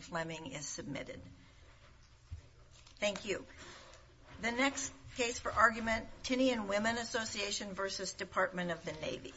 Fleming is submitted. Thank you. The next case for argument, Tinian Women Association versus Department of the Navy.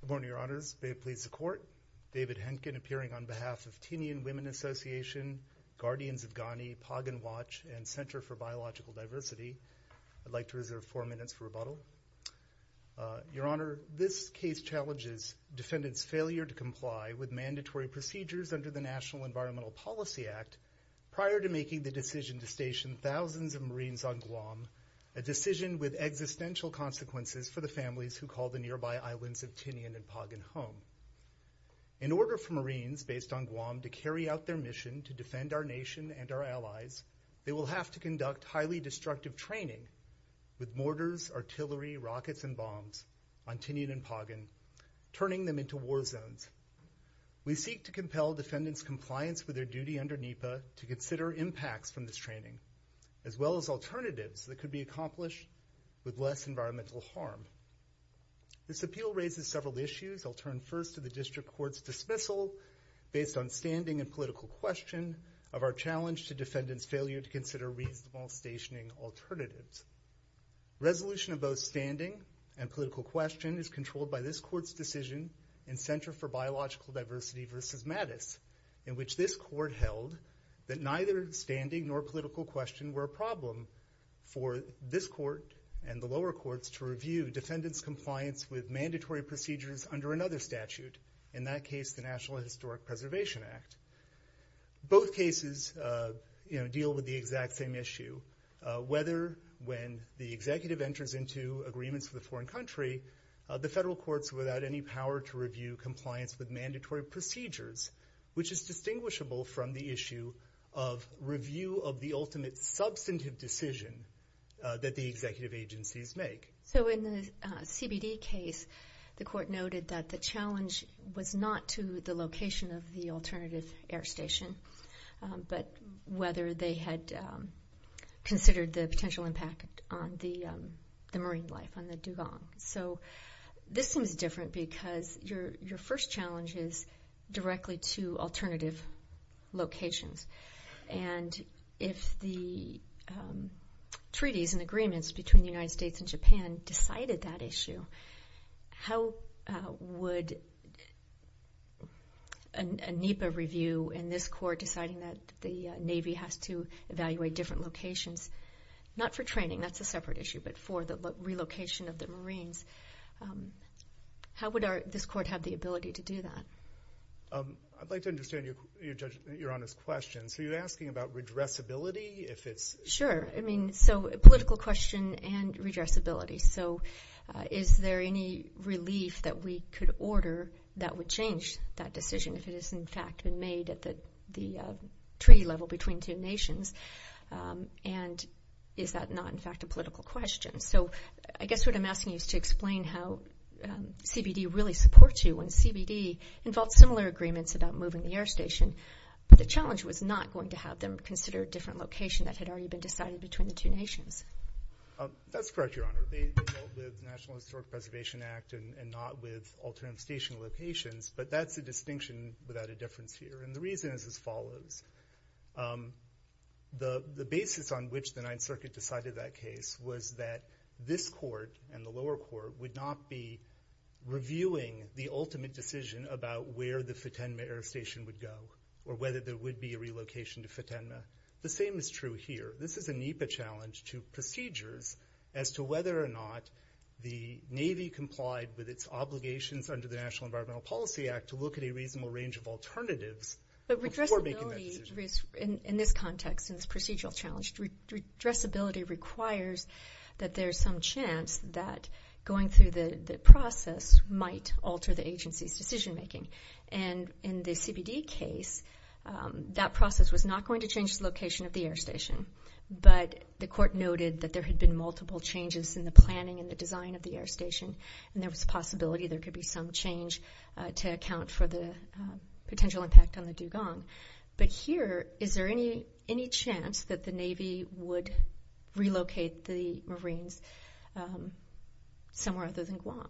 Good morning, your honors. May it please the court. David Henkin appearing on behalf of Tinian Women Association, Guardians of Ghani, Pagan Watch, and Center for Biological Diversity. I'd like to reserve four minutes for rebuttal. Your honor, this case challenges defendants' failure to comply with mandatory procedures under the National Environmental Policy Act prior to making the decision to station thousands of Marines on Guam, a decision with existential consequences for the families who call the nearby islands of Tinian and Pagan home. In order for Marines based on Guam to carry out their mission to defend our nation and our allies, they will have to conduct highly destructive training with mortars, artillery, rockets, and bombs on Tinian and Pagan, turning them into war zones. We seek to compel defendants' compliance with their duty under NEPA to consider impacts from this training, as well as alternatives that could be accomplished with less environmental harm. This appeal raises several issues. I'll turn first to the district court's dismissal based on standing and political question of our challenge to defendants' failure to consider reasonable stationing alternatives. Resolution of both standing and political question is controlled by this court's decision in Center for Biological Diversity v. Mattis, in which this court held that neither standing nor political question were a problem for this court and the lower courts to review defendants' compliance with mandatory procedures under another statute, in that case the National Historic Preservation Act. Both cases deal with the exact same issue, whether when the executive enters into agreements with a foreign country, the federal courts are without any power to review compliance with mandatory procedures, which is distinguishable from the issue of review of the ultimate substantive decision that the executive agencies make. So in the CBD case, the court noted that the NEPA had considered the potential impact on the marine life, on the Duvang. So this seems different because your first challenge is directly to alternative locations. And if the treaties and agreements between the United States and Japan decided that issue, how would a NEPA review in this court deciding that the Navy has to do something about the evaluation of different locations, not for training, that's a separate issue, but for the relocation of the marines, how would this court have the ability to do that? I'd like to understand Your Honor's question. So you're asking about redressability? Sure. I mean, so a political question and redressability. So is there any relief that we could order that would change that decision if it is in fact made at the treaty level between two nations? And is that not in fact a political question? So I guess what I'm asking you is to explain how CBD really supports you when CBD involved similar agreements about moving the air station, but the challenge was not going to have them consider a different location that had already been decided between the two nations. That's correct, Your Honor. They dealt with National Historic Preservation Act and not with alternative station locations, but that's a distinction without a difference here. And the reason is as follows. The basis on which the Ninth Circuit decided that case was that this court and the lower court would not be reviewing the ultimate decision about where the Futenma Air Station would go or whether there would be a relocation to Futenma. The same is true here. This is a NEPA challenge to procedures as to whether or not the Navy complied with its obligations under the National Environmental Policy Act to look at a reasonable range of alternatives before making that decision. In this context, in this procedural challenge, redressability requires that there's some chance that going through the process might alter the agency's decision making. And in the CBD case, that process was not going to change the location of the air station, but the court noted that there had been multiple changes in the planning and the design of the air station. So there's a possibility there could be some change to account for the potential impact on the dugong. But here, is there any chance that the Navy would relocate the Marines somewhere other than Guam?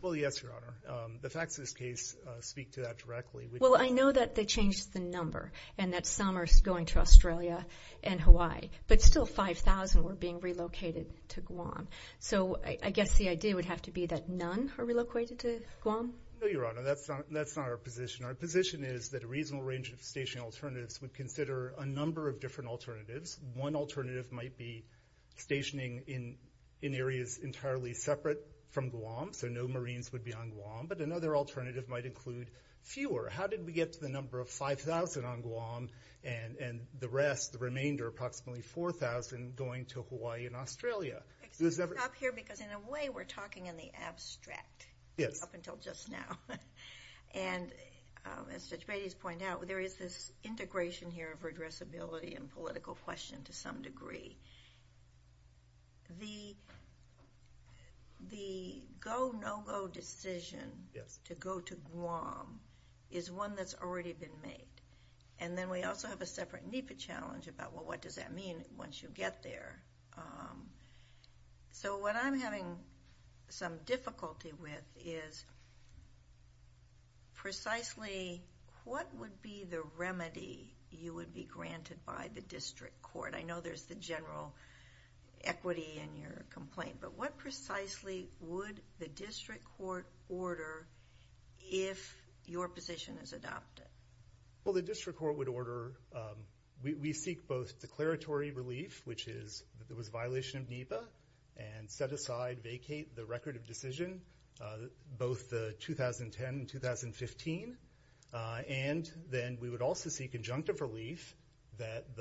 Well, yes, Your Honor. The facts of this case speak to that directly. Well, I know that they changed the number and that some are going to Australia and Hawaii, but still 5,000 were being relocated to Guam. So I guess the idea would have to be that the Marines would be stationed in Guam. No, Your Honor. That's not our position. Our position is that a reasonable range of station alternatives would consider a number of different alternatives. One alternative might be stationing in areas entirely separate from Guam, so no Marines would be on Guam. But another alternative might include fewer. How did we get to the number of 5,000 on Guam and the rest, the remainder, approximately 4,000, going to Hawaii and Australia? Excuse me. Stop here, because in a way we're talking in the abstract up until just now. And as Judge Bates pointed out, there is this integration here of regressibility and political question to some degree. The go-no-go decision to go to Guam is one that's already been made. And then we also have a separate NEPA challenge about, well, what does that mean once you get there? So what I'm having some difficulty with is precisely what would be the remedy you would be granted by the district court? I know there's the general equity in your complaint, but what precisely would the district court order if your position is adopted? Well, the district court would order, we seek both declaratory relief, which is, it was a violation of NEPA, and set aside, vacate the record of decision, both the 2010 and 2015. And then we would also seek conjunctive relief that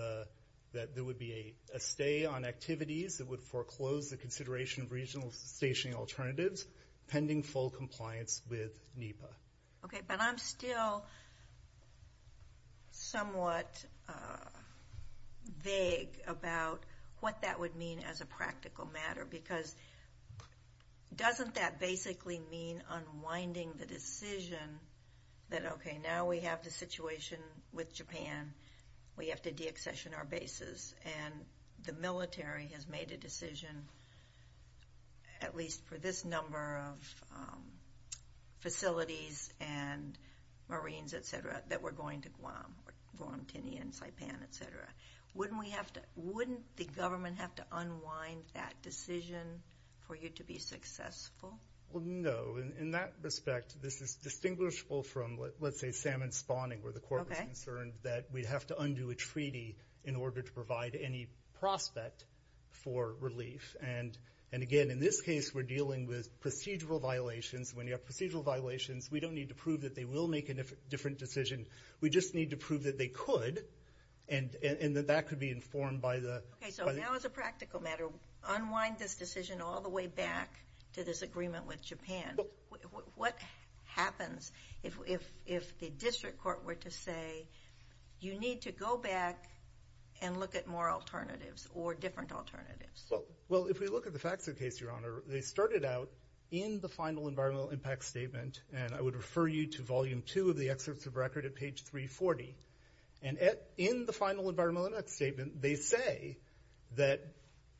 there would be a stay on activities that would foreclose the consideration of regional stationing alternatives pending full action. Somewhat vague about what that would mean as a practical matter, because doesn't that basically mean unwinding the decision that, okay, now we have the situation with Japan, we have to deaccession our bases, and the military has made a decision, at least for that we're going to Guam, Guam, Tinian, Saipan, et cetera. Wouldn't the government have to unwind that decision for you to be successful? Well, no. In that respect, this is distinguishable from, let's say, salmon spawning, where the court was concerned that we'd have to undo a treaty in order to provide any prospect for relief. And again, in this case, we're dealing with procedural violations. When you have procedural violations, we don't need to prove that they will make a different decision. We just need to prove that they could, and that that could be informed by the... Okay, so now as a practical matter, unwind this decision all the way back to this agreement with Japan. What happens if the district court were to say, you need to go back and look at more alternatives, or different alternatives? Well, if we look at the facts of the case, Your Honor, they started out in the final environmental impact statement, and I would refer you to volume two of the excerpts of record at page 340. And in the final environmental impact statement, they say that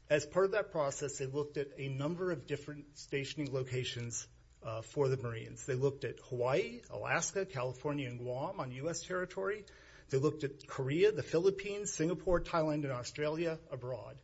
as part of that process, they looked at a number of different stationing locations for the Marines. They looked at Hawaii, Alaska, California, and Guam on U.S. territory. They looked at Korea, the Philippines, Singapore, Thailand, and Australia abroad.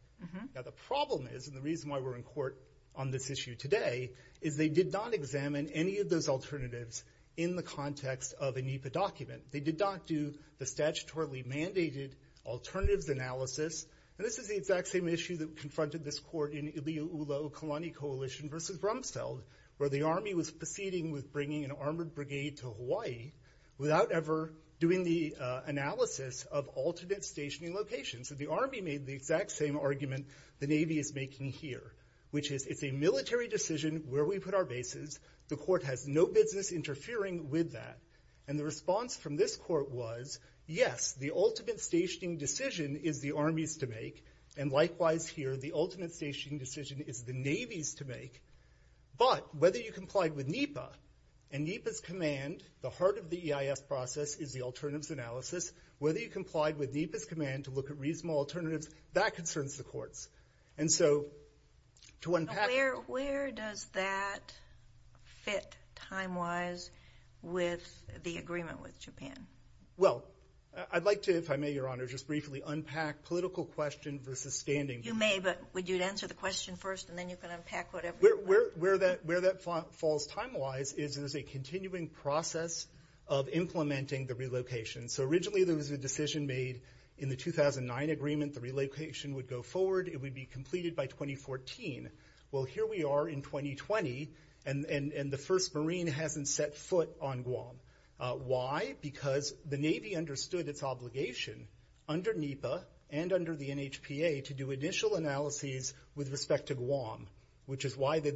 Now, the problem is, and the reason why we're in court on this issue today, is they did not examine any of those alternatives in the context of a NEPA document. They did not do the statutorily mandated alternatives analysis, and this is the exact same issue that confronted this court in Iliu'ula'u Kalani Coalition v. Brumsfeld, where the Army was proceeding with bringing an armored brigade to Hawaii, without ever doing the analysis of alternate stationing locations. So the problem here, which is, it's a military decision where we put our bases. The court has no business interfering with that. And the response from this court was, yes, the ultimate stationing decision is the Army's to make, and likewise here, the ultimate stationing decision is the Navy's to make, but whether you complied with NEPA, and NEPA's command, the heart of the EIS process, is the alternatives analysis. Whether you complied with NEPA's command to look at reasonable alternatives, that concerns the courts. And so, to unpack... Where does that fit, time-wise, with the agreement with Japan? Well, I'd like to, if I may, Your Honor, just briefly unpack political question versus standing... You may, but would you answer the question first, and then you can unpack whatever you'd like? Where that falls time-wise, is there's a continuing process of implementing the relocation. So the 2009 agreement, the relocation would go forward. It would be completed by 2014. Well, here we are in 2020, and the first Marine hasn't set foot on Guam. Why? Because the Navy understood its obligation, under NEPA and under the NHPA, to do initial analyses with respect to Guam, which is why they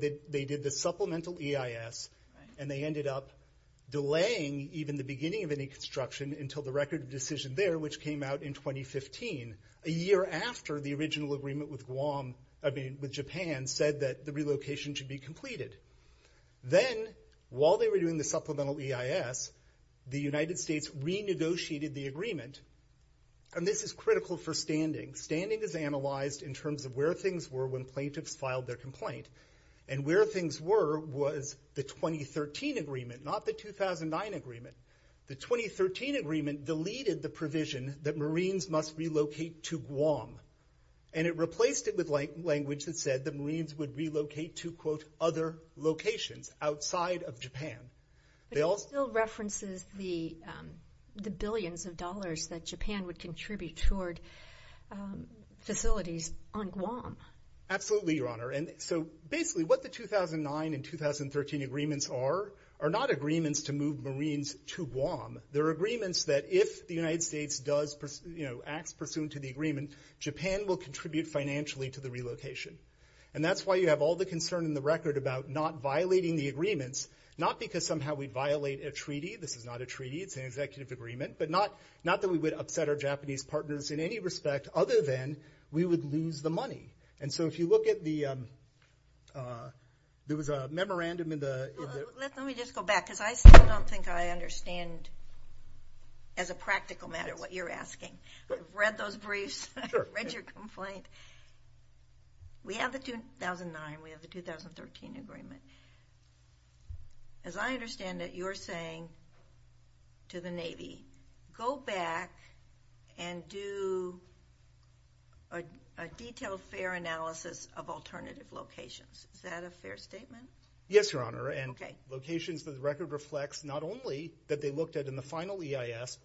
did the supplemental EIS, and they ended up delaying even the beginning of any construction until the record of decision there, which came out in 2015, a year after the original agreement with Japan said that the relocation should be completed. Then, while they were doing the supplemental EIS, the United States renegotiated the agreement, and this is critical for standing. Standing is analyzed in terms of where things were when plaintiffs filed their complaint, and where things were was the 2013 agreement, not the 2009 agreement. The 2013 agreement deleted the provision that Marines must relocate to Guam, and it replaced it with language that said that Marines would relocate to, quote, other locations outside of Japan. But it still references the billions of dollars that Japan would contribute toward facilities on Guam. Absolutely, Your Honor. So basically, what the 2009 and 2013 agreements are are not agreements to move Marines to Guam. They're agreements that if the United States does, acts pursuant to the agreement, Japan will contribute financially to the relocation. And that's why you have all the concern in the record about not violating the agreements, not because somehow we violate a treaty. This is not a treaty. It's an executive agreement. But not that we would upset our And so if you look at the, there was a memorandum in the... Let me just go back, because I still don't think I understand as a practical matter what you're asking. I've read those briefs, I've read your complaint. We have the 2009, we have the 2013 agreement. As I understand it, you're saying to the Navy, go back and do a detailed fair analysis of alternative locations. Is that a fair statement? Yes, Your Honor. And locations for the record reflects not only that they looked at in the final EIS,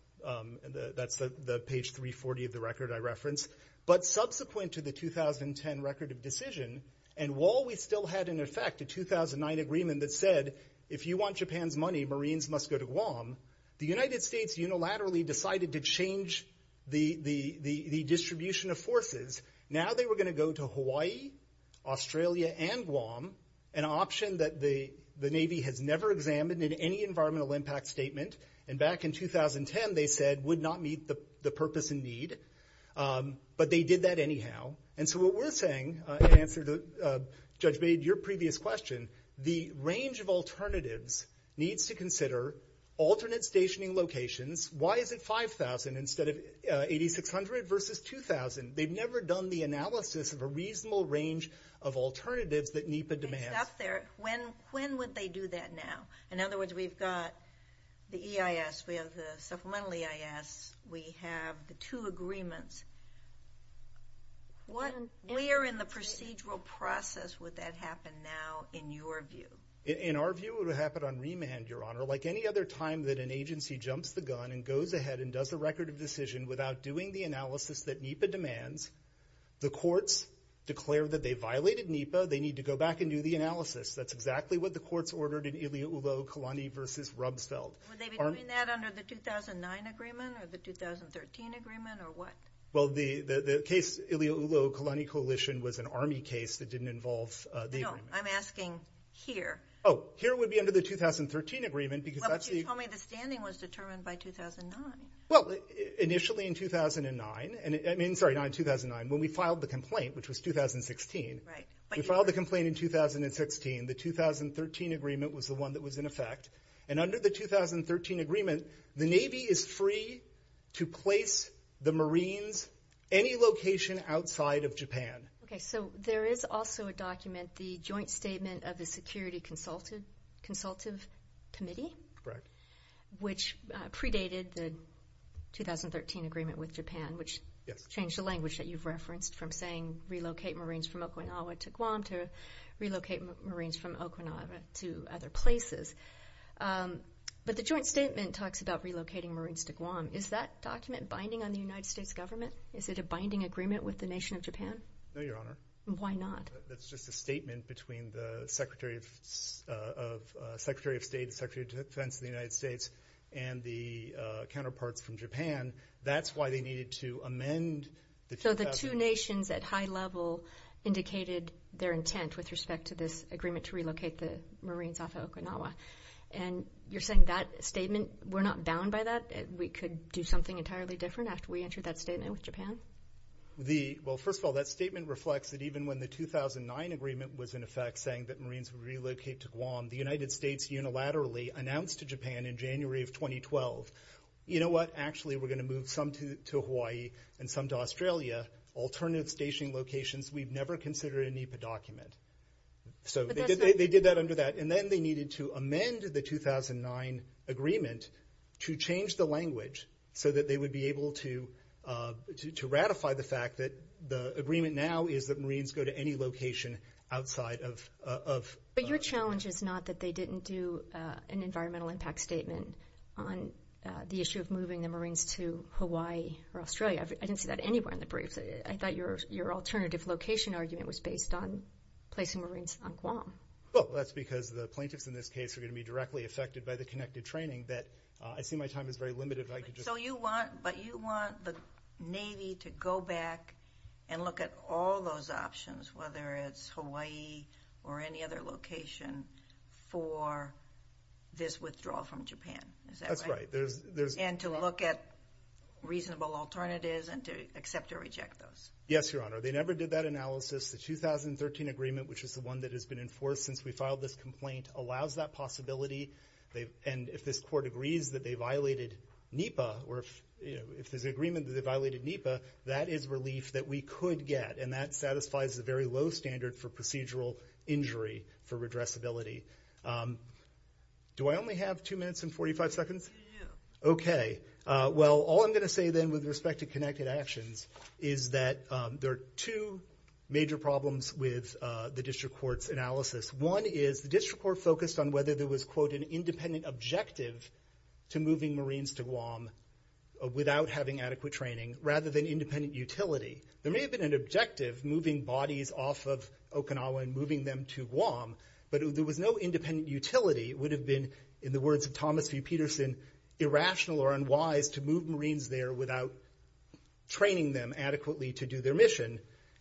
that's the page 340 of the record I referenced, but subsequent to the 2010 record of decision. And while we still had in effect a 2009 agreement that said, if you want Japan's money, Marines must go to Guam, the United States unilaterally decided to change the distribution of forces. Now they were going to go to Hawaii, Australia, and Guam, an option that the Navy has never examined in any environmental impact statement. And back in 2010, they said would not meet the purpose and need. But they did that anyhow. And so what we're saying, in answer to Judge Bade, your previous question, the range of alternatives needs to consider alternate stationing locations. Why is it 5,000 instead of 8,600 versus 2,000? They've never done the analysis of a reasonable range of alternatives that NEPA demands. It's up there. When would they do that now? In other words, we've got the EIS, we have the supplemental EIS, we have the two agreements. Where in the procedural process would that happen now, in your view? In our view, it would happen on remand, Your Honor. Like any other time that an agency does an analysis that NEPA demands, the courts declare that they violated NEPA, they need to go back and do the analysis. That's exactly what the courts ordered in Ilioulo-Kalani versus Rumsfeld. Would they be doing that under the 2009 agreement, or the 2013 agreement, or what? Well, the case Ilioulo-Kalani coalition was an Army case that didn't involve the agreement. No, I'm asking here. Oh, here would be under the 2013 agreement, because that's the... Well, but you told me the standing was determined by 2009. Well, initially in 2009, I mean, sorry, not in 2009, when we filed the complaint, which was 2016. Right. We filed the complaint in 2016. The 2013 agreement was the one that was in effect. And under the 2013 agreement, the Navy is free to place the Marines any location outside of Japan. Okay, so there is also a document, the joint statement of the security consultative committee? Correct. Which predated the 2013 agreement with Japan, which changed the language that you've referenced from saying relocate Marines from Okinawa to Guam, to relocate Marines from Okinawa to other places. But the joint statement talks about relocating Marines to Guam. Is that document binding on the United States government? Is it a binding agreement with the nation of Japan? No, Your Honor. Why not? That's just a statement between the Secretary of State and Secretary of Defense of the United States and the counterparts from Japan. That's why they needed to amend the 2013 agreement. So the two nations at high level indicated their intent with respect to this agreement to relocate the Marines off of Okinawa. And you're saying that statement, we're not bound by that? We could do something entirely different after we entered that statement with Japan? Well, first of all, that statement reflects that even when the 2009 agreement was in effect saying that Marines would relocate to Guam, the United States unilaterally announced to Japan in January of 2012, you know what, actually we're going to move some to Hawaii and some to Australia, alternative stationing locations we've never considered a NEPA document. So they did that under that. And then they needed to amend the 2009 agreement to change the language so that they would be able to ratify the fact that the agreement now is that Marines go to any location outside of... But your challenge is not that they didn't do an environmental impact statement on the issue of moving the Marines to Hawaii or Australia. I didn't see that anywhere in the briefs. I thought your alternative location argument was based on placing Marines on Guam. Well, that's because the plaintiffs in this case are going to be directly affected by the connected training that I see my time is very limited. So you want the Navy to go back and look at all those options, whether it's Hawaii or any other location, for this withdrawal from Japan. Is that right? That's right. And to look at reasonable alternatives and to accept or reject those. Yes, Your Honor. They never did that analysis. The 2013 agreement, which is the one that we filed this complaint, allows that possibility. And if this court agrees that they violated NEPA, or if there's an agreement that they violated NEPA, that is relief that we could get. And that satisfies the very low standard for procedural injury for redressability. Do I only have two minutes and 45 seconds? Yeah. Okay. Well, all I'm going to say then with respect to connected actions is that there were two major problems with the district court's analysis. One is the district court focused on whether there was, quote, an independent objective to moving Marines to Guam without having adequate training, rather than independent utility. There may have been an objective, moving bodies off of Okinawa and moving them to Guam, but there was no independent utility. It would have been, in the words of Thomas V. Peterson, irrational or unwise to move Marines there without training them adequately to do their mission.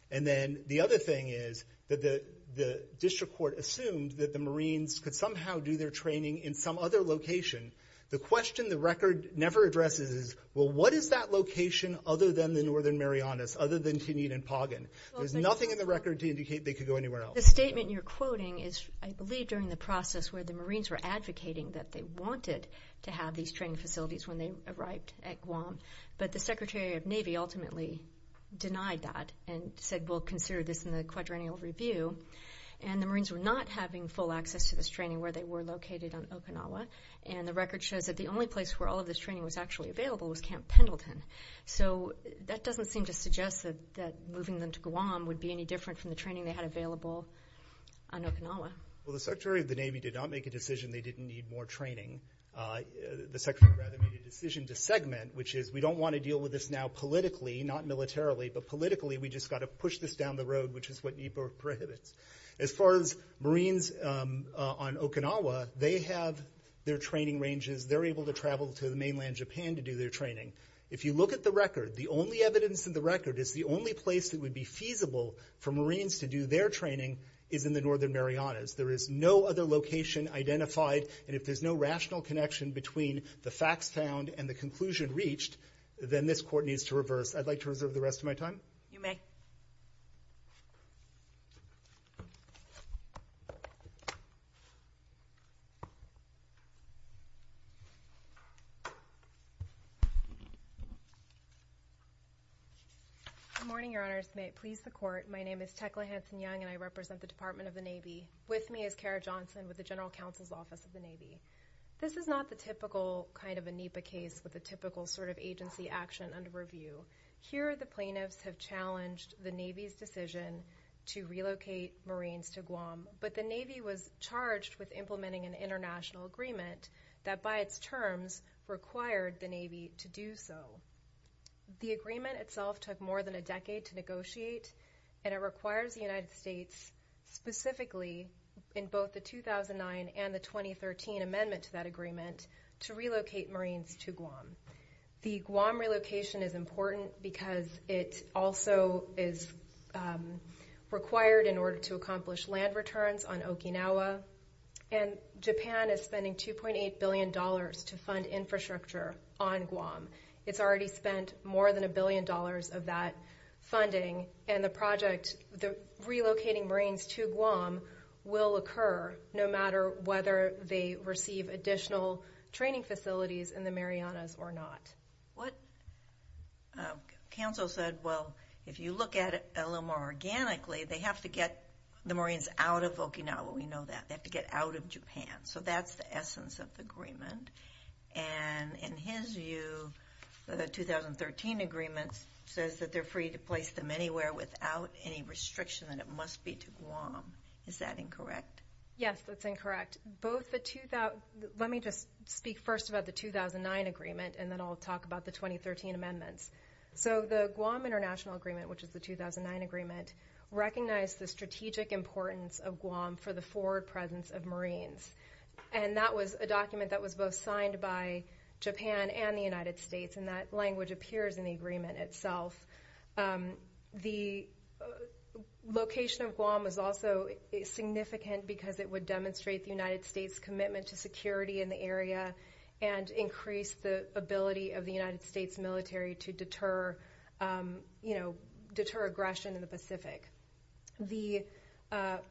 And then the other thing is that the district court assumed that the Marines could somehow do their training in some other location. The question the record never addresses is, well, what is that location other than the northern Marianas, other than Tinian and Pagan? There's nothing in the record to indicate they could go anywhere else. The statement you're quoting is, I believe, during the process where the Marines were allowed to have these training facilities when they arrived at Guam. But the Secretary of Navy ultimately denied that and said, well, consider this in the quadrennial review. And the Marines were not having full access to this training where they were located on Okinawa. And the record shows that the only place where all of this training was actually available was Camp Pendleton. So that doesn't seem to suggest that moving them to Guam would Well, the Secretary of the Navy did not make a decision they didn't need more training. The Secretary, rather, made a decision to segment, which is we don't want to deal with this now politically, not militarily. But politically, we just got to push this down the road, which is what NEPA prohibits. As far as Marines on Okinawa, they have their training ranges. They're able to travel to the mainland Japan to do their training. If you look at the record, the only evidence in the record is the only place that would be feasible for Marines to do their training is in the northern Marianas. There is no other location identified. And if there's no rational connection between the facts found and the conclusion reached, then this court needs to reverse. I'd like to reserve the rest of my time. You may. Good morning, Your Honors. May it please the Court. My name is Tecla Hanson-Young, and I represent the Department of the Navy. With me is Kara Johnson with the General Counsel's Office of the Navy. This is not the typical kind of a NEPA case with a typical sort of decision to relocate Marines to Guam. But the Navy was charged with implementing an international agreement that by its terms required the Navy to do so. The agreement itself took more than a decade to negotiate, and it requires the United States, specifically in both the 2009 and the 2013 amendment to that agreement, to relocate Marines to Guam. The Guam relocation is important because it also is required in order to accomplish land returns on Okinawa, and Japan is spending $2.8 billion to fund infrastructure on Guam. It's already spent more than a billion dollars of that funding, and the project, the relocating Marines to Guam will occur no matter whether they receive additional training facilities in the Marianas or not. What counsel said, well, if you look at it a little more organically, they have to get the Marines out of Okinawa. We know that. They have to get out of Japan. So that's the essence of the agreement. And in his view, the 2013 agreement says that they're free to place them anywhere without any restriction, and it must be to Guam. Is that incorrect? Yes, that's incorrect. Both the – let me just speak first about the 2009 agreement, and then I'll talk about the 2013 amendments. So the Guam International Agreement, which is the 2009 agreement, recognized the strategic importance of Guam for the forward presence of Marines. And that was a document that was both signed by Japan and the United States, and that language appears in the agreement itself. The location of Guam was also significant because it would demonstrate the United States' commitment to security in the area and increase the ability of the United States military to deter aggression in the Pacific. The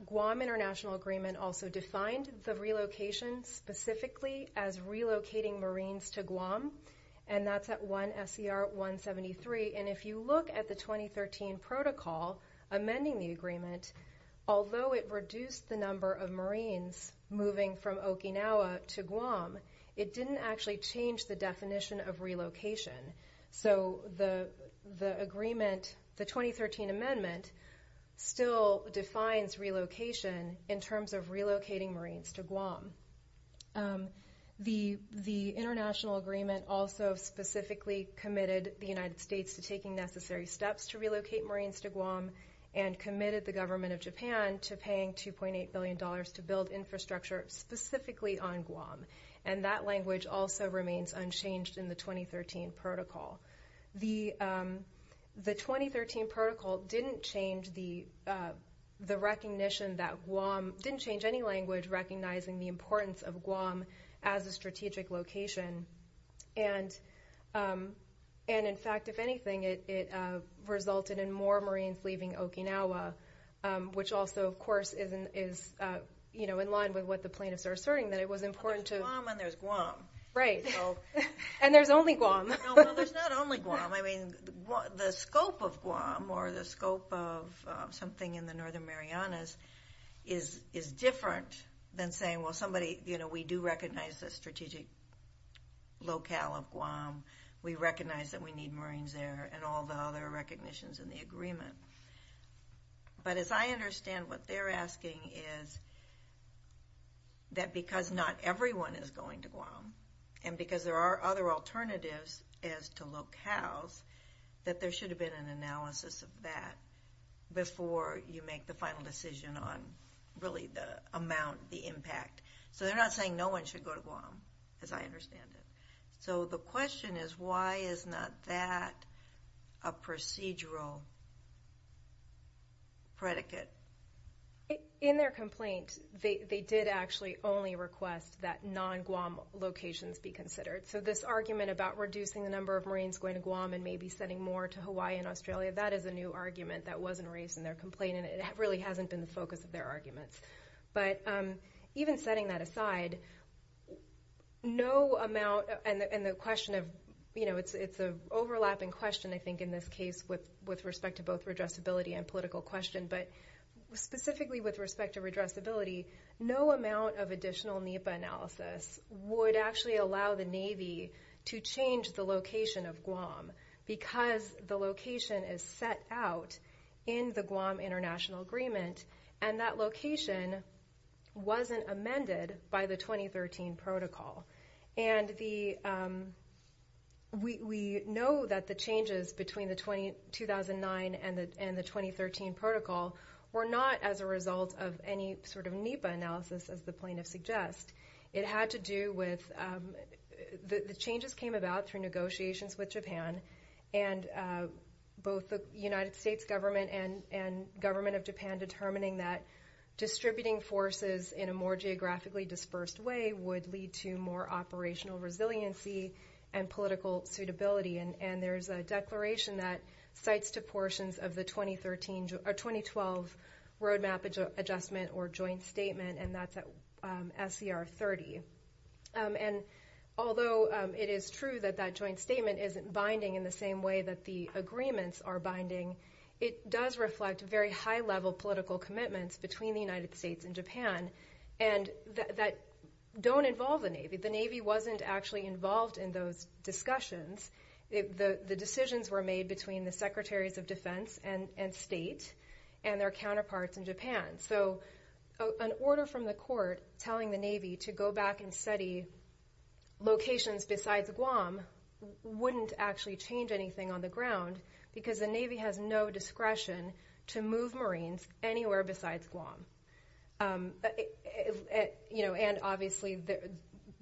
Guam International Agreement also defined the relocation specifically as relocating Marines to Guam, and that's at 1 S.E.R. 173. And if you look at the 2013 protocol amending the agreement, although it reduced the number of Marines moving from Okinawa to Guam, it didn't actually change the definition of relocation. So the agreement – the 2013 amendment still defines relocation in terms of relocating Marines to Guam. The international agreement also specifically committed the United States to taking necessary steps to relocate Marines to Guam and committed the government of Japan to paying $2.8 billion to build infrastructure specifically on Guam. And that language also remains unchanged in the 2013 protocol. The 2013 protocol didn't change the recognition that Guam – didn't change the importance of Guam as a strategic location. And in fact, if anything, it resulted in more Marines leaving Okinawa, which also, of course, is in line with what the plaintiffs are asserting, that it was important to – But there's Guam and there's Guam. Right. And there's only Guam. No, well, there's not only Guam. I mean, the scope of Guam or the scope of something in the Northern Marianas is different than saying, well, somebody – you know, we do recognize the strategic locale of Guam. We recognize that we need Marines there and all the other recognitions in the agreement. But as I understand what they're asking is that because not everyone is going to Guam and because there are other alternatives as to decision on really the amount, the impact. So they're not saying no one should go to Guam, as I understand it. So the question is why is not that a procedural predicate? In their complaint, they did actually only request that non-Guam locations be considered. So this argument about reducing the number of Marines going to Guam and maybe sending more to Hawaii and Australia, that is a new argument that wasn't raised in their complaint and it really hasn't been the focus of their arguments. But even setting that aside, no amount – and the question of – it's an overlapping question, I think, in this case with respect to both redressability and political question. But specifically with respect to redressability, no amount of additional NEPA analysis would actually allow the Navy to change the location of Guam because the location is set out in the Guam International Agreement and that location wasn't amended by the 2013 Protocol. And we know that the changes between 2009 and the 2013 Protocol were not as a result of any sort of NEPA analysis, as the plaintiff suggests. It had to do with – the changes came about through negotiations with Japan and both the United States Government and Government of Japan determining that distributing forces in a more geographically dispersed way would lead to more operational resiliency and political suitability. And there's a declaration that cites two portions of the 2013 – or 2012 Roadmap Adjustment or Joint Statement, and that's at SCR 30. And although it is true that that joint statement isn't binding in the same way that the agreements are binding, it does reflect very high-level political commitments between the United States and Japan and that don't involve the Navy. The Navy wasn't actually involved in those discussions. The decisions were made between the Secretaries of Defense and State and their counterparts in Japan. So an order from the court telling the Navy to go back and study locations besides Guam wouldn't actually change anything on the ground because the Navy has no discretion to move Marines anywhere besides Guam. And obviously,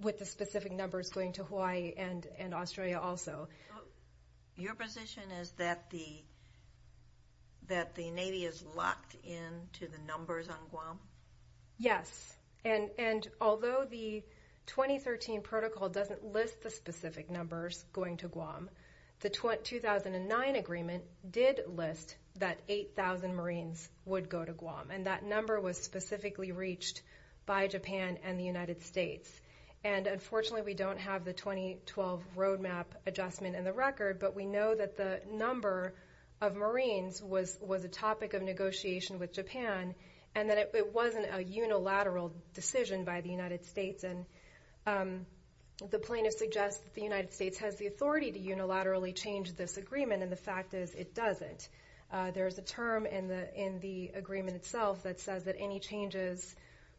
with the specific numbers going to Hawaii and Australia also. Your position is that the Navy is locked into the numbers on Guam? Yes. And although the 2013 protocol doesn't list the specific numbers going to Guam, the number was specifically reached by Japan and the United States. And unfortunately, we don't have the 2012 Roadmap Adjustment in the record, but we know that the number of Marines was a topic of negotiation with Japan and that it wasn't a unilateral decision by the United States. And the plaintiff suggests that the United States has the authority to unilaterally change this agreement, and the fact is it doesn't. There's a term in the agreement itself that says that any changes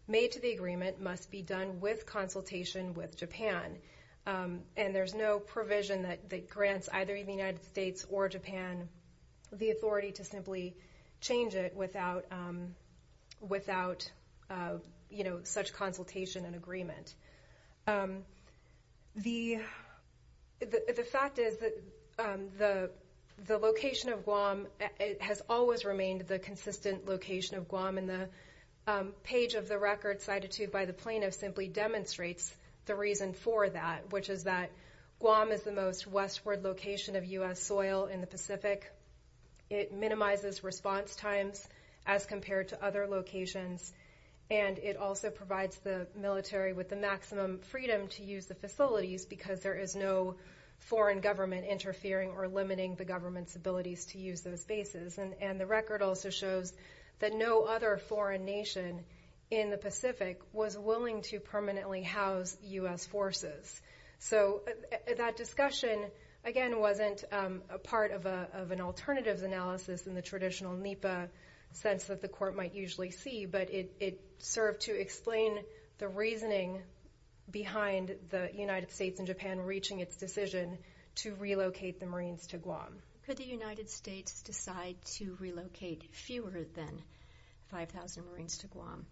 made to the agreement must be done with consultation with Japan. And there's no provision that grants either the United States or Japan the authority to The location of Guam has always remained the consistent location of Guam, and the page of the record cited to by the plaintiff simply demonstrates the reason for that, which is that Guam is the most westward location of U.S. soil in the Pacific. It minimizes response times as compared to other locations, and it also provides the military with the maximum freedom to use the facilities because there is no foreign government interfering or limiting the government's abilities to use those bases. And the record also shows that no other foreign nation in the Pacific was willing to permanently house U.S. forces. So that discussion, again, wasn't a part of an alternatives analysis in the traditional NEPA sense that the court might usually see, but it served to explain the reasoning behind the United States and Japan reaching its decision to relocate the Marines to Guam. Could the United States decide to relocate fewer than 5,000 Marines to Guam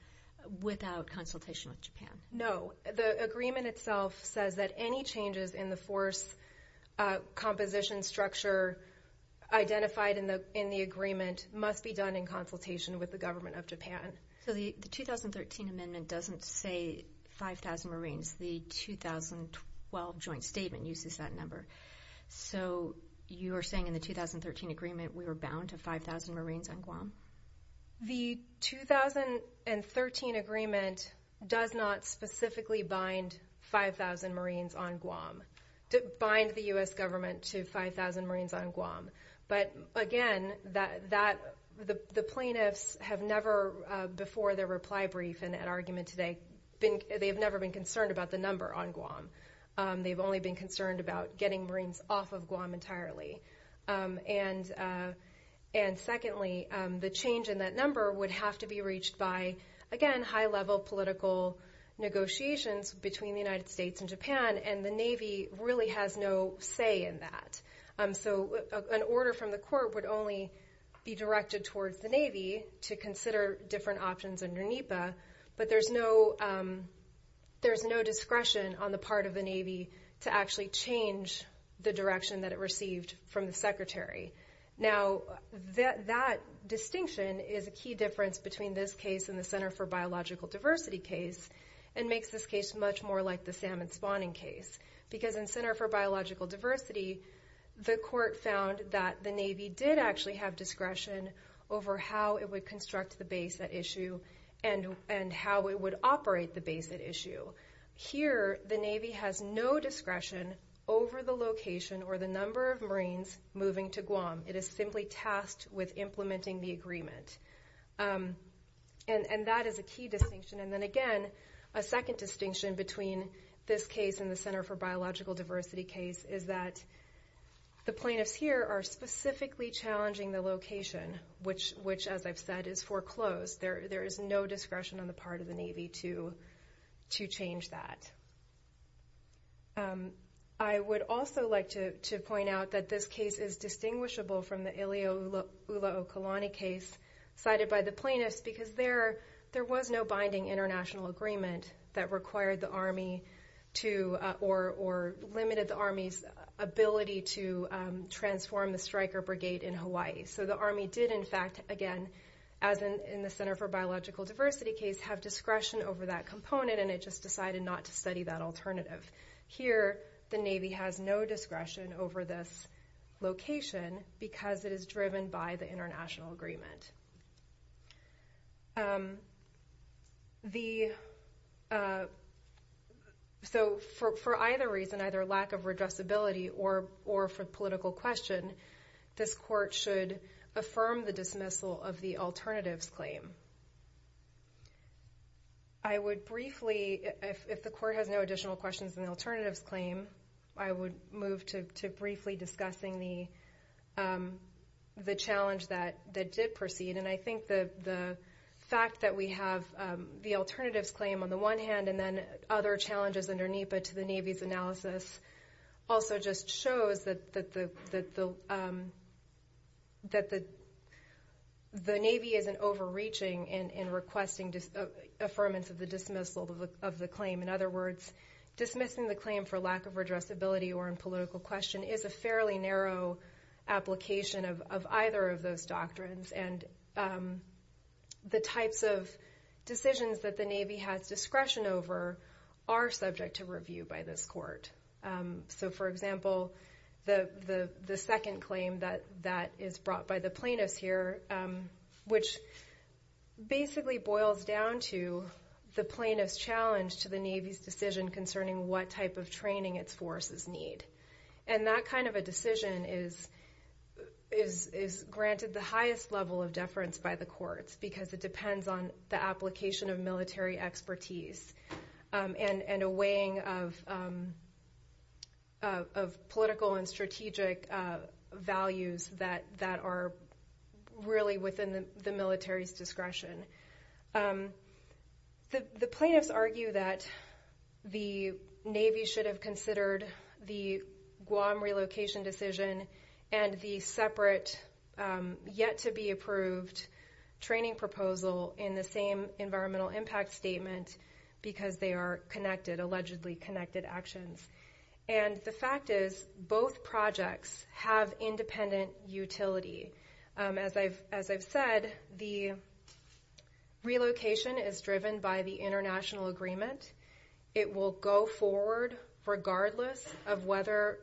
without consultation with Japan? No. The agreement itself says that any changes in the force composition structure identified in the agreement must be done in consultation with the Government of Japan. So the 2013 amendment doesn't say 5,000 Marines. The 2012 joint statement uses that number. So you are saying in the 2013 agreement we were bound to 5,000 Marines on Guam? The 2013 agreement does not specifically bind 5,000 Marines on Guam – bind the U.S. Government to 5,000 Marines on Guam. But again, the plaintiffs have never before their reply brief in an argument today – they have never been concerned about the number on Guam. They've only been concerned about getting Marines off of Guam entirely. And secondly, the change in that number would have to be reached by, again, high-level political negotiations between the United States and Japan, and the Navy really has no say in that. So an order from the court would only be directed towards the Navy to consider different options under NEPA, but there's no discretion on the part of the Navy to actually change the direction that it received from the Secretary. Now, that distinction is a key difference between this case and the Center for Biological like the salmon spawning case, because in Center for Biological Diversity, the court found that the Navy did actually have discretion over how it would construct the base at issue and how it would operate the base at issue. Here, the Navy has no discretion over the location or the number of Marines moving to Guam. It is simply tasked with implementing the agreement. And that is a key distinction. And then again, a second distinction between this case and the Center for Biological Diversity case is that the plaintiffs here are specifically challenging the location, which, as I've said, is foreclosed. There is no discretion on the part of the Navy to change that. I would also like to point out that this case is distinguishable from the Ilio Ula'okalani case cited by the plaintiffs, because there was no binding international agreement that required the Army to, or limited the Army's ability to transform the striker brigade in Hawaii. So the Army did, in fact, again, as in the Center for Biological Diversity case, have discretion over that component, and it just decided not to study that alternative. Here, the Navy has no discretion over this location, because it is driven by the international agreement. So for either reason, either lack of redressability or for political question, this court should affirm the dismissal of the alternatives claim. I would briefly, if the court has no additional questions on the alternatives claim, I would move to briefly discussing the challenge that did proceed. And I think the fact that we have the alternatives claim on the one hand and then other challenges under NEPA to the Navy's analysis also just shows that the Navy isn't overreaching in requesting affirmance of the dismissal of the claim. In other words, dismissing the claim for lack of redressability or in political question is a fairly narrow application of either of those doctrines, and the types of decisions that the Navy has discretion over are subject to review by this court. So for example, the second claim that is brought by the plaintiffs here, which basically boils down to the plaintiffs' challenge to the Navy's decision concerning what type of training its forces need. And that kind of a decision is granted the highest level of deference by the courts, because it depends on the application of military expertise and a weighing of political and strategic values that are really within the military's discretion. The plaintiffs argue that the Navy should have considered the Guam relocation decision and the separate, yet to be approved training proposal in the same environmental impact statement because they are connected, allegedly connected actions. And the fact is both projects have independent utility. As I've said, the relocation is driven by the international agreement. It will go forward regardless of whether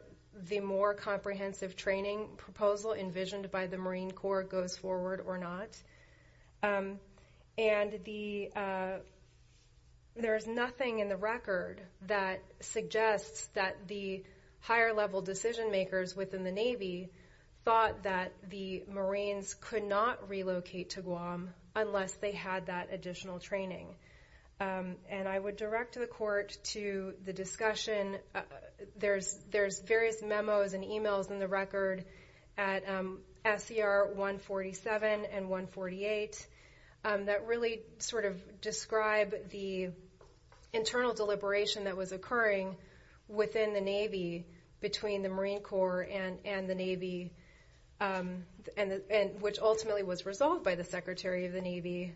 the more comprehensive training proposal envisioned by the Marine Corps goes forward or not. And there is nothing in the record that suggests that the higher level decision makers within the Navy thought that the Marines could not relocate to Guam unless they had that additional training. And I would direct the court to the discussion. There's various memos and emails in the record at SCR 147 and 148 that really sort of describe the internal deliberation that was occurring within the Navy between the Marine Corps and the Navy, which ultimately was resolved by the Secretary of the Navy,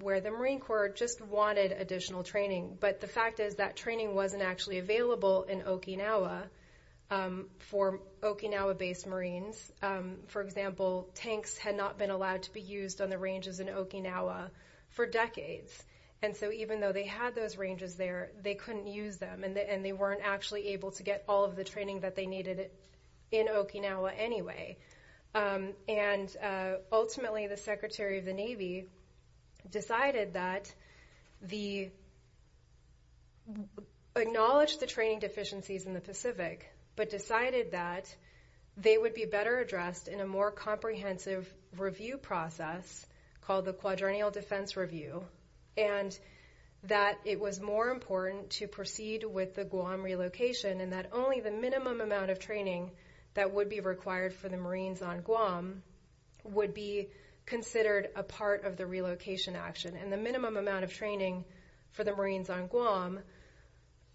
where the Marine Corps was responsible in Okinawa for Okinawa-based Marines. For example, tanks had not been allowed to be used on the ranges in Okinawa for decades. And so even though they had those ranges there, they couldn't use them and they weren't actually able to get all of the training that they needed in Okinawa anyway. And ultimately, the Secretary of the Navy decided that the acknowledge the training deficiencies in the Pacific, but decided that they would be better addressed in a more comprehensive review process called the Quadrennial Defense Review, and that it was more important to proceed with the Guam relocation and that only the minimum amount of training that would be required for the Marines on Guam would be considered a part of the relocation action. And the minimum amount of training for the Marines on Guam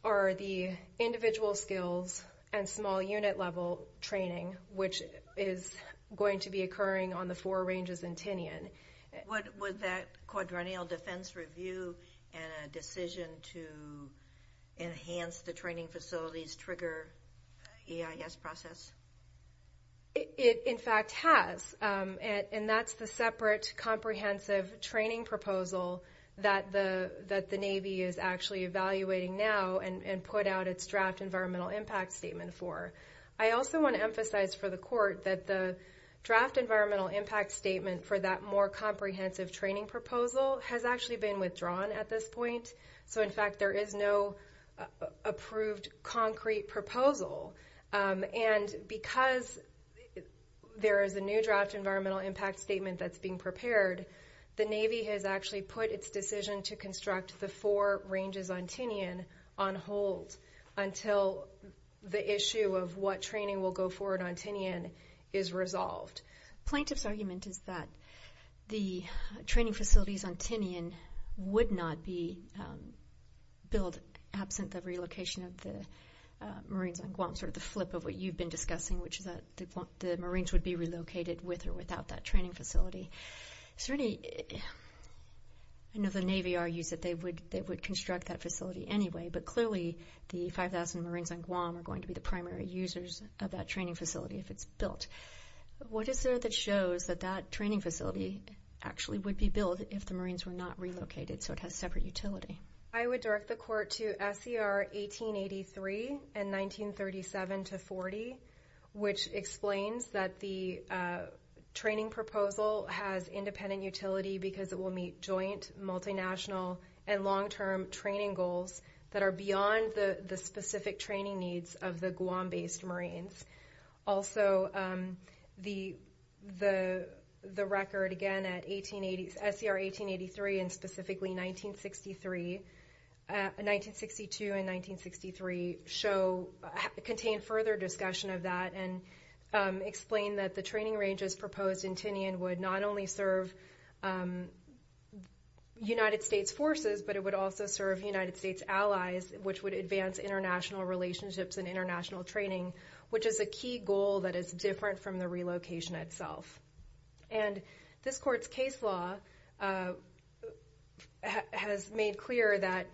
are the individual skills and small unit level training, which is going to be occurring on the four ranges in Tinian. Would that Quadrennial Defense Review and a decision to enhance the training facilities trigger EIS process? It, in fact, has. And that's the separate comprehensive training proposal that the Navy is actually evaluating now and put out its draft environmental impact statement for. I also want to emphasize for the Court that the draft environmental impact statement for that more comprehensive training proposal has actually been withdrawn at this point. So, in fact, there is no approved concrete proposal. And because there is a new draft environmental impact statement that's being prepared, the Navy has actually put its decision to construct the four ranges on Tinian on hold until the issue of what training will go forward on Tinian is resolved. Plaintiff's argument is that the training facilities on Tinian would not be built absent the relocation of the Marines on Guam, sort of the flip of what you've been discussing, which is that the Marines would be relocated with or without that training facility. Certainly, I know the Navy argues that they would construct that facility anyway, but clearly the 5,000 Marines on Guam are going to be the primary users of that training facility if it's built. What is there that shows that that training facility actually would be built if the Marines were not relocated so it has separate utility? I would direct the Court to SCR 1883 and 1937-40, which explains that the training proposal has independent utility because it will meet joint, multinational, and long-term training goals that are beyond the specific training needs of the Guam-based Marines. Also, the record, again, at SCR 1883 and specifically 1962 and 1963 contain further discussion of that and explain that the training ranges proposed in Tinian would not only serve United States allies, which would advance international relationships and international training, which is a key goal that is different from the relocation itself. This Court's case law has made clear that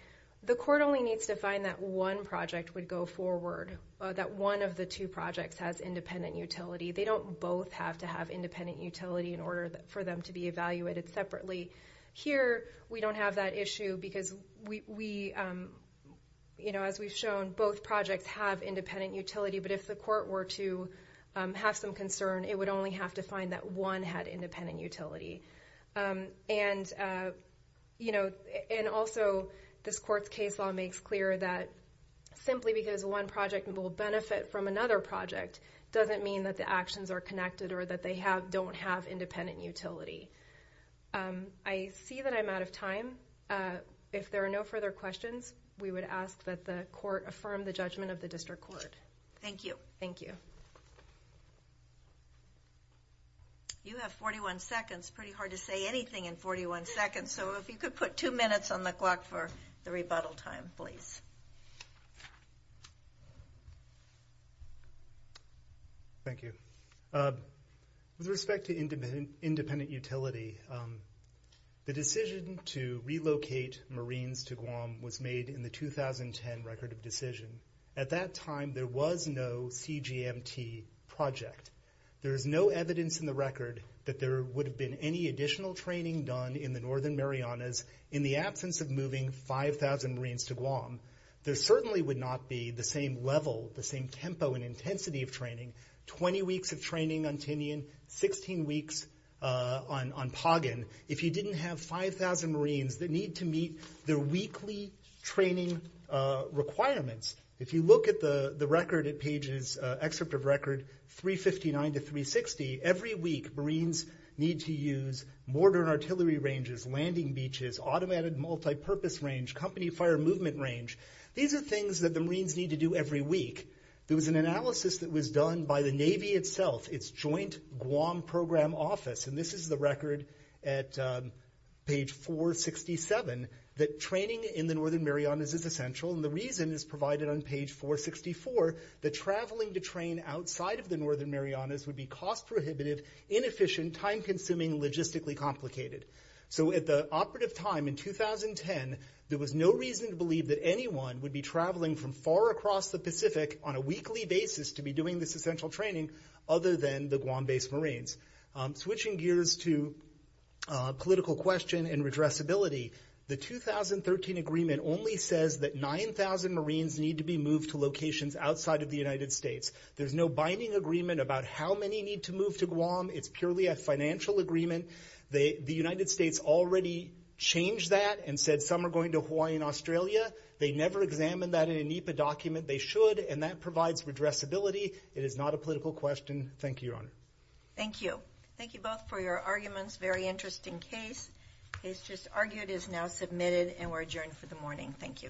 the Court only needs to find that one project would go forward, that one of the two projects has independent utility. They don't both have to have independent utility in order for them to be evaluated separately. Here, we don't have that issue because, as we've shown, both projects have independent utility, but if the Court were to have some concern, it would only have to find that one had independent utility. Also, this Court's case law makes clear that simply because one project will benefit from another project doesn't mean that the actions are connected or that they If there are no further questions, we would ask that the Court affirm the judgment of the District Court. Thank you. Thank you. You have 41 seconds. Pretty hard to say anything in 41 seconds, so if you could put two minutes Thank you. With respect to independent utility, the decision to relocate Marines to Guam was made in the 2010 Record of Decision. At that time, there was no CGMT project. There is no evidence in the record that there would have been any additional training done in the northern Marianas in the absence of moving 5,000 Marines to Guam. There certainly would not be the same level, the same tempo and intensity of training, 20 weeks of training on Tinian, 16 weeks on Pagan, if you didn't have 5,000 Marines that need to meet their weekly training requirements. If you look at the record, at Page's excerpt of record, 359 to 360, every week Marines need to use mortar and artillery ranges, landing beaches, automated multipurpose range, company fire movement range. These are things that the Marines need to do every week. There was an analysis that was done by the Navy itself, its joint Guam program office, and this is the record at Page 467, that training in the northern Marianas is essential, and the reason is provided on Page 464, that traveling to any side of the northern Marianas would be cost-prohibitive, inefficient, time-consuming, logistically complicated. So at the operative time in 2010, there was no reason to believe that anyone would be traveling from far across the Pacific on a weekly basis to be doing this essential training other than the Guam-based Marines. Switching gears to political question and redressability, the 2013 agreement only says that 9,000 Marines need to be moved to locations outside of the United States. There's no binding agreement about how many need to move to Guam. It's purely a financial agreement. The United States already changed that and said some are going to Hawaii and Australia. They never examined that in a NEPA document. They should, and that provides redressability. It is not a political question. Thank you, Your Honor. Thank you. Thank you both for your arguments. Very interesting case. Case just argued is now submitted and we're adjourned for the morning. Thank you. Thank you.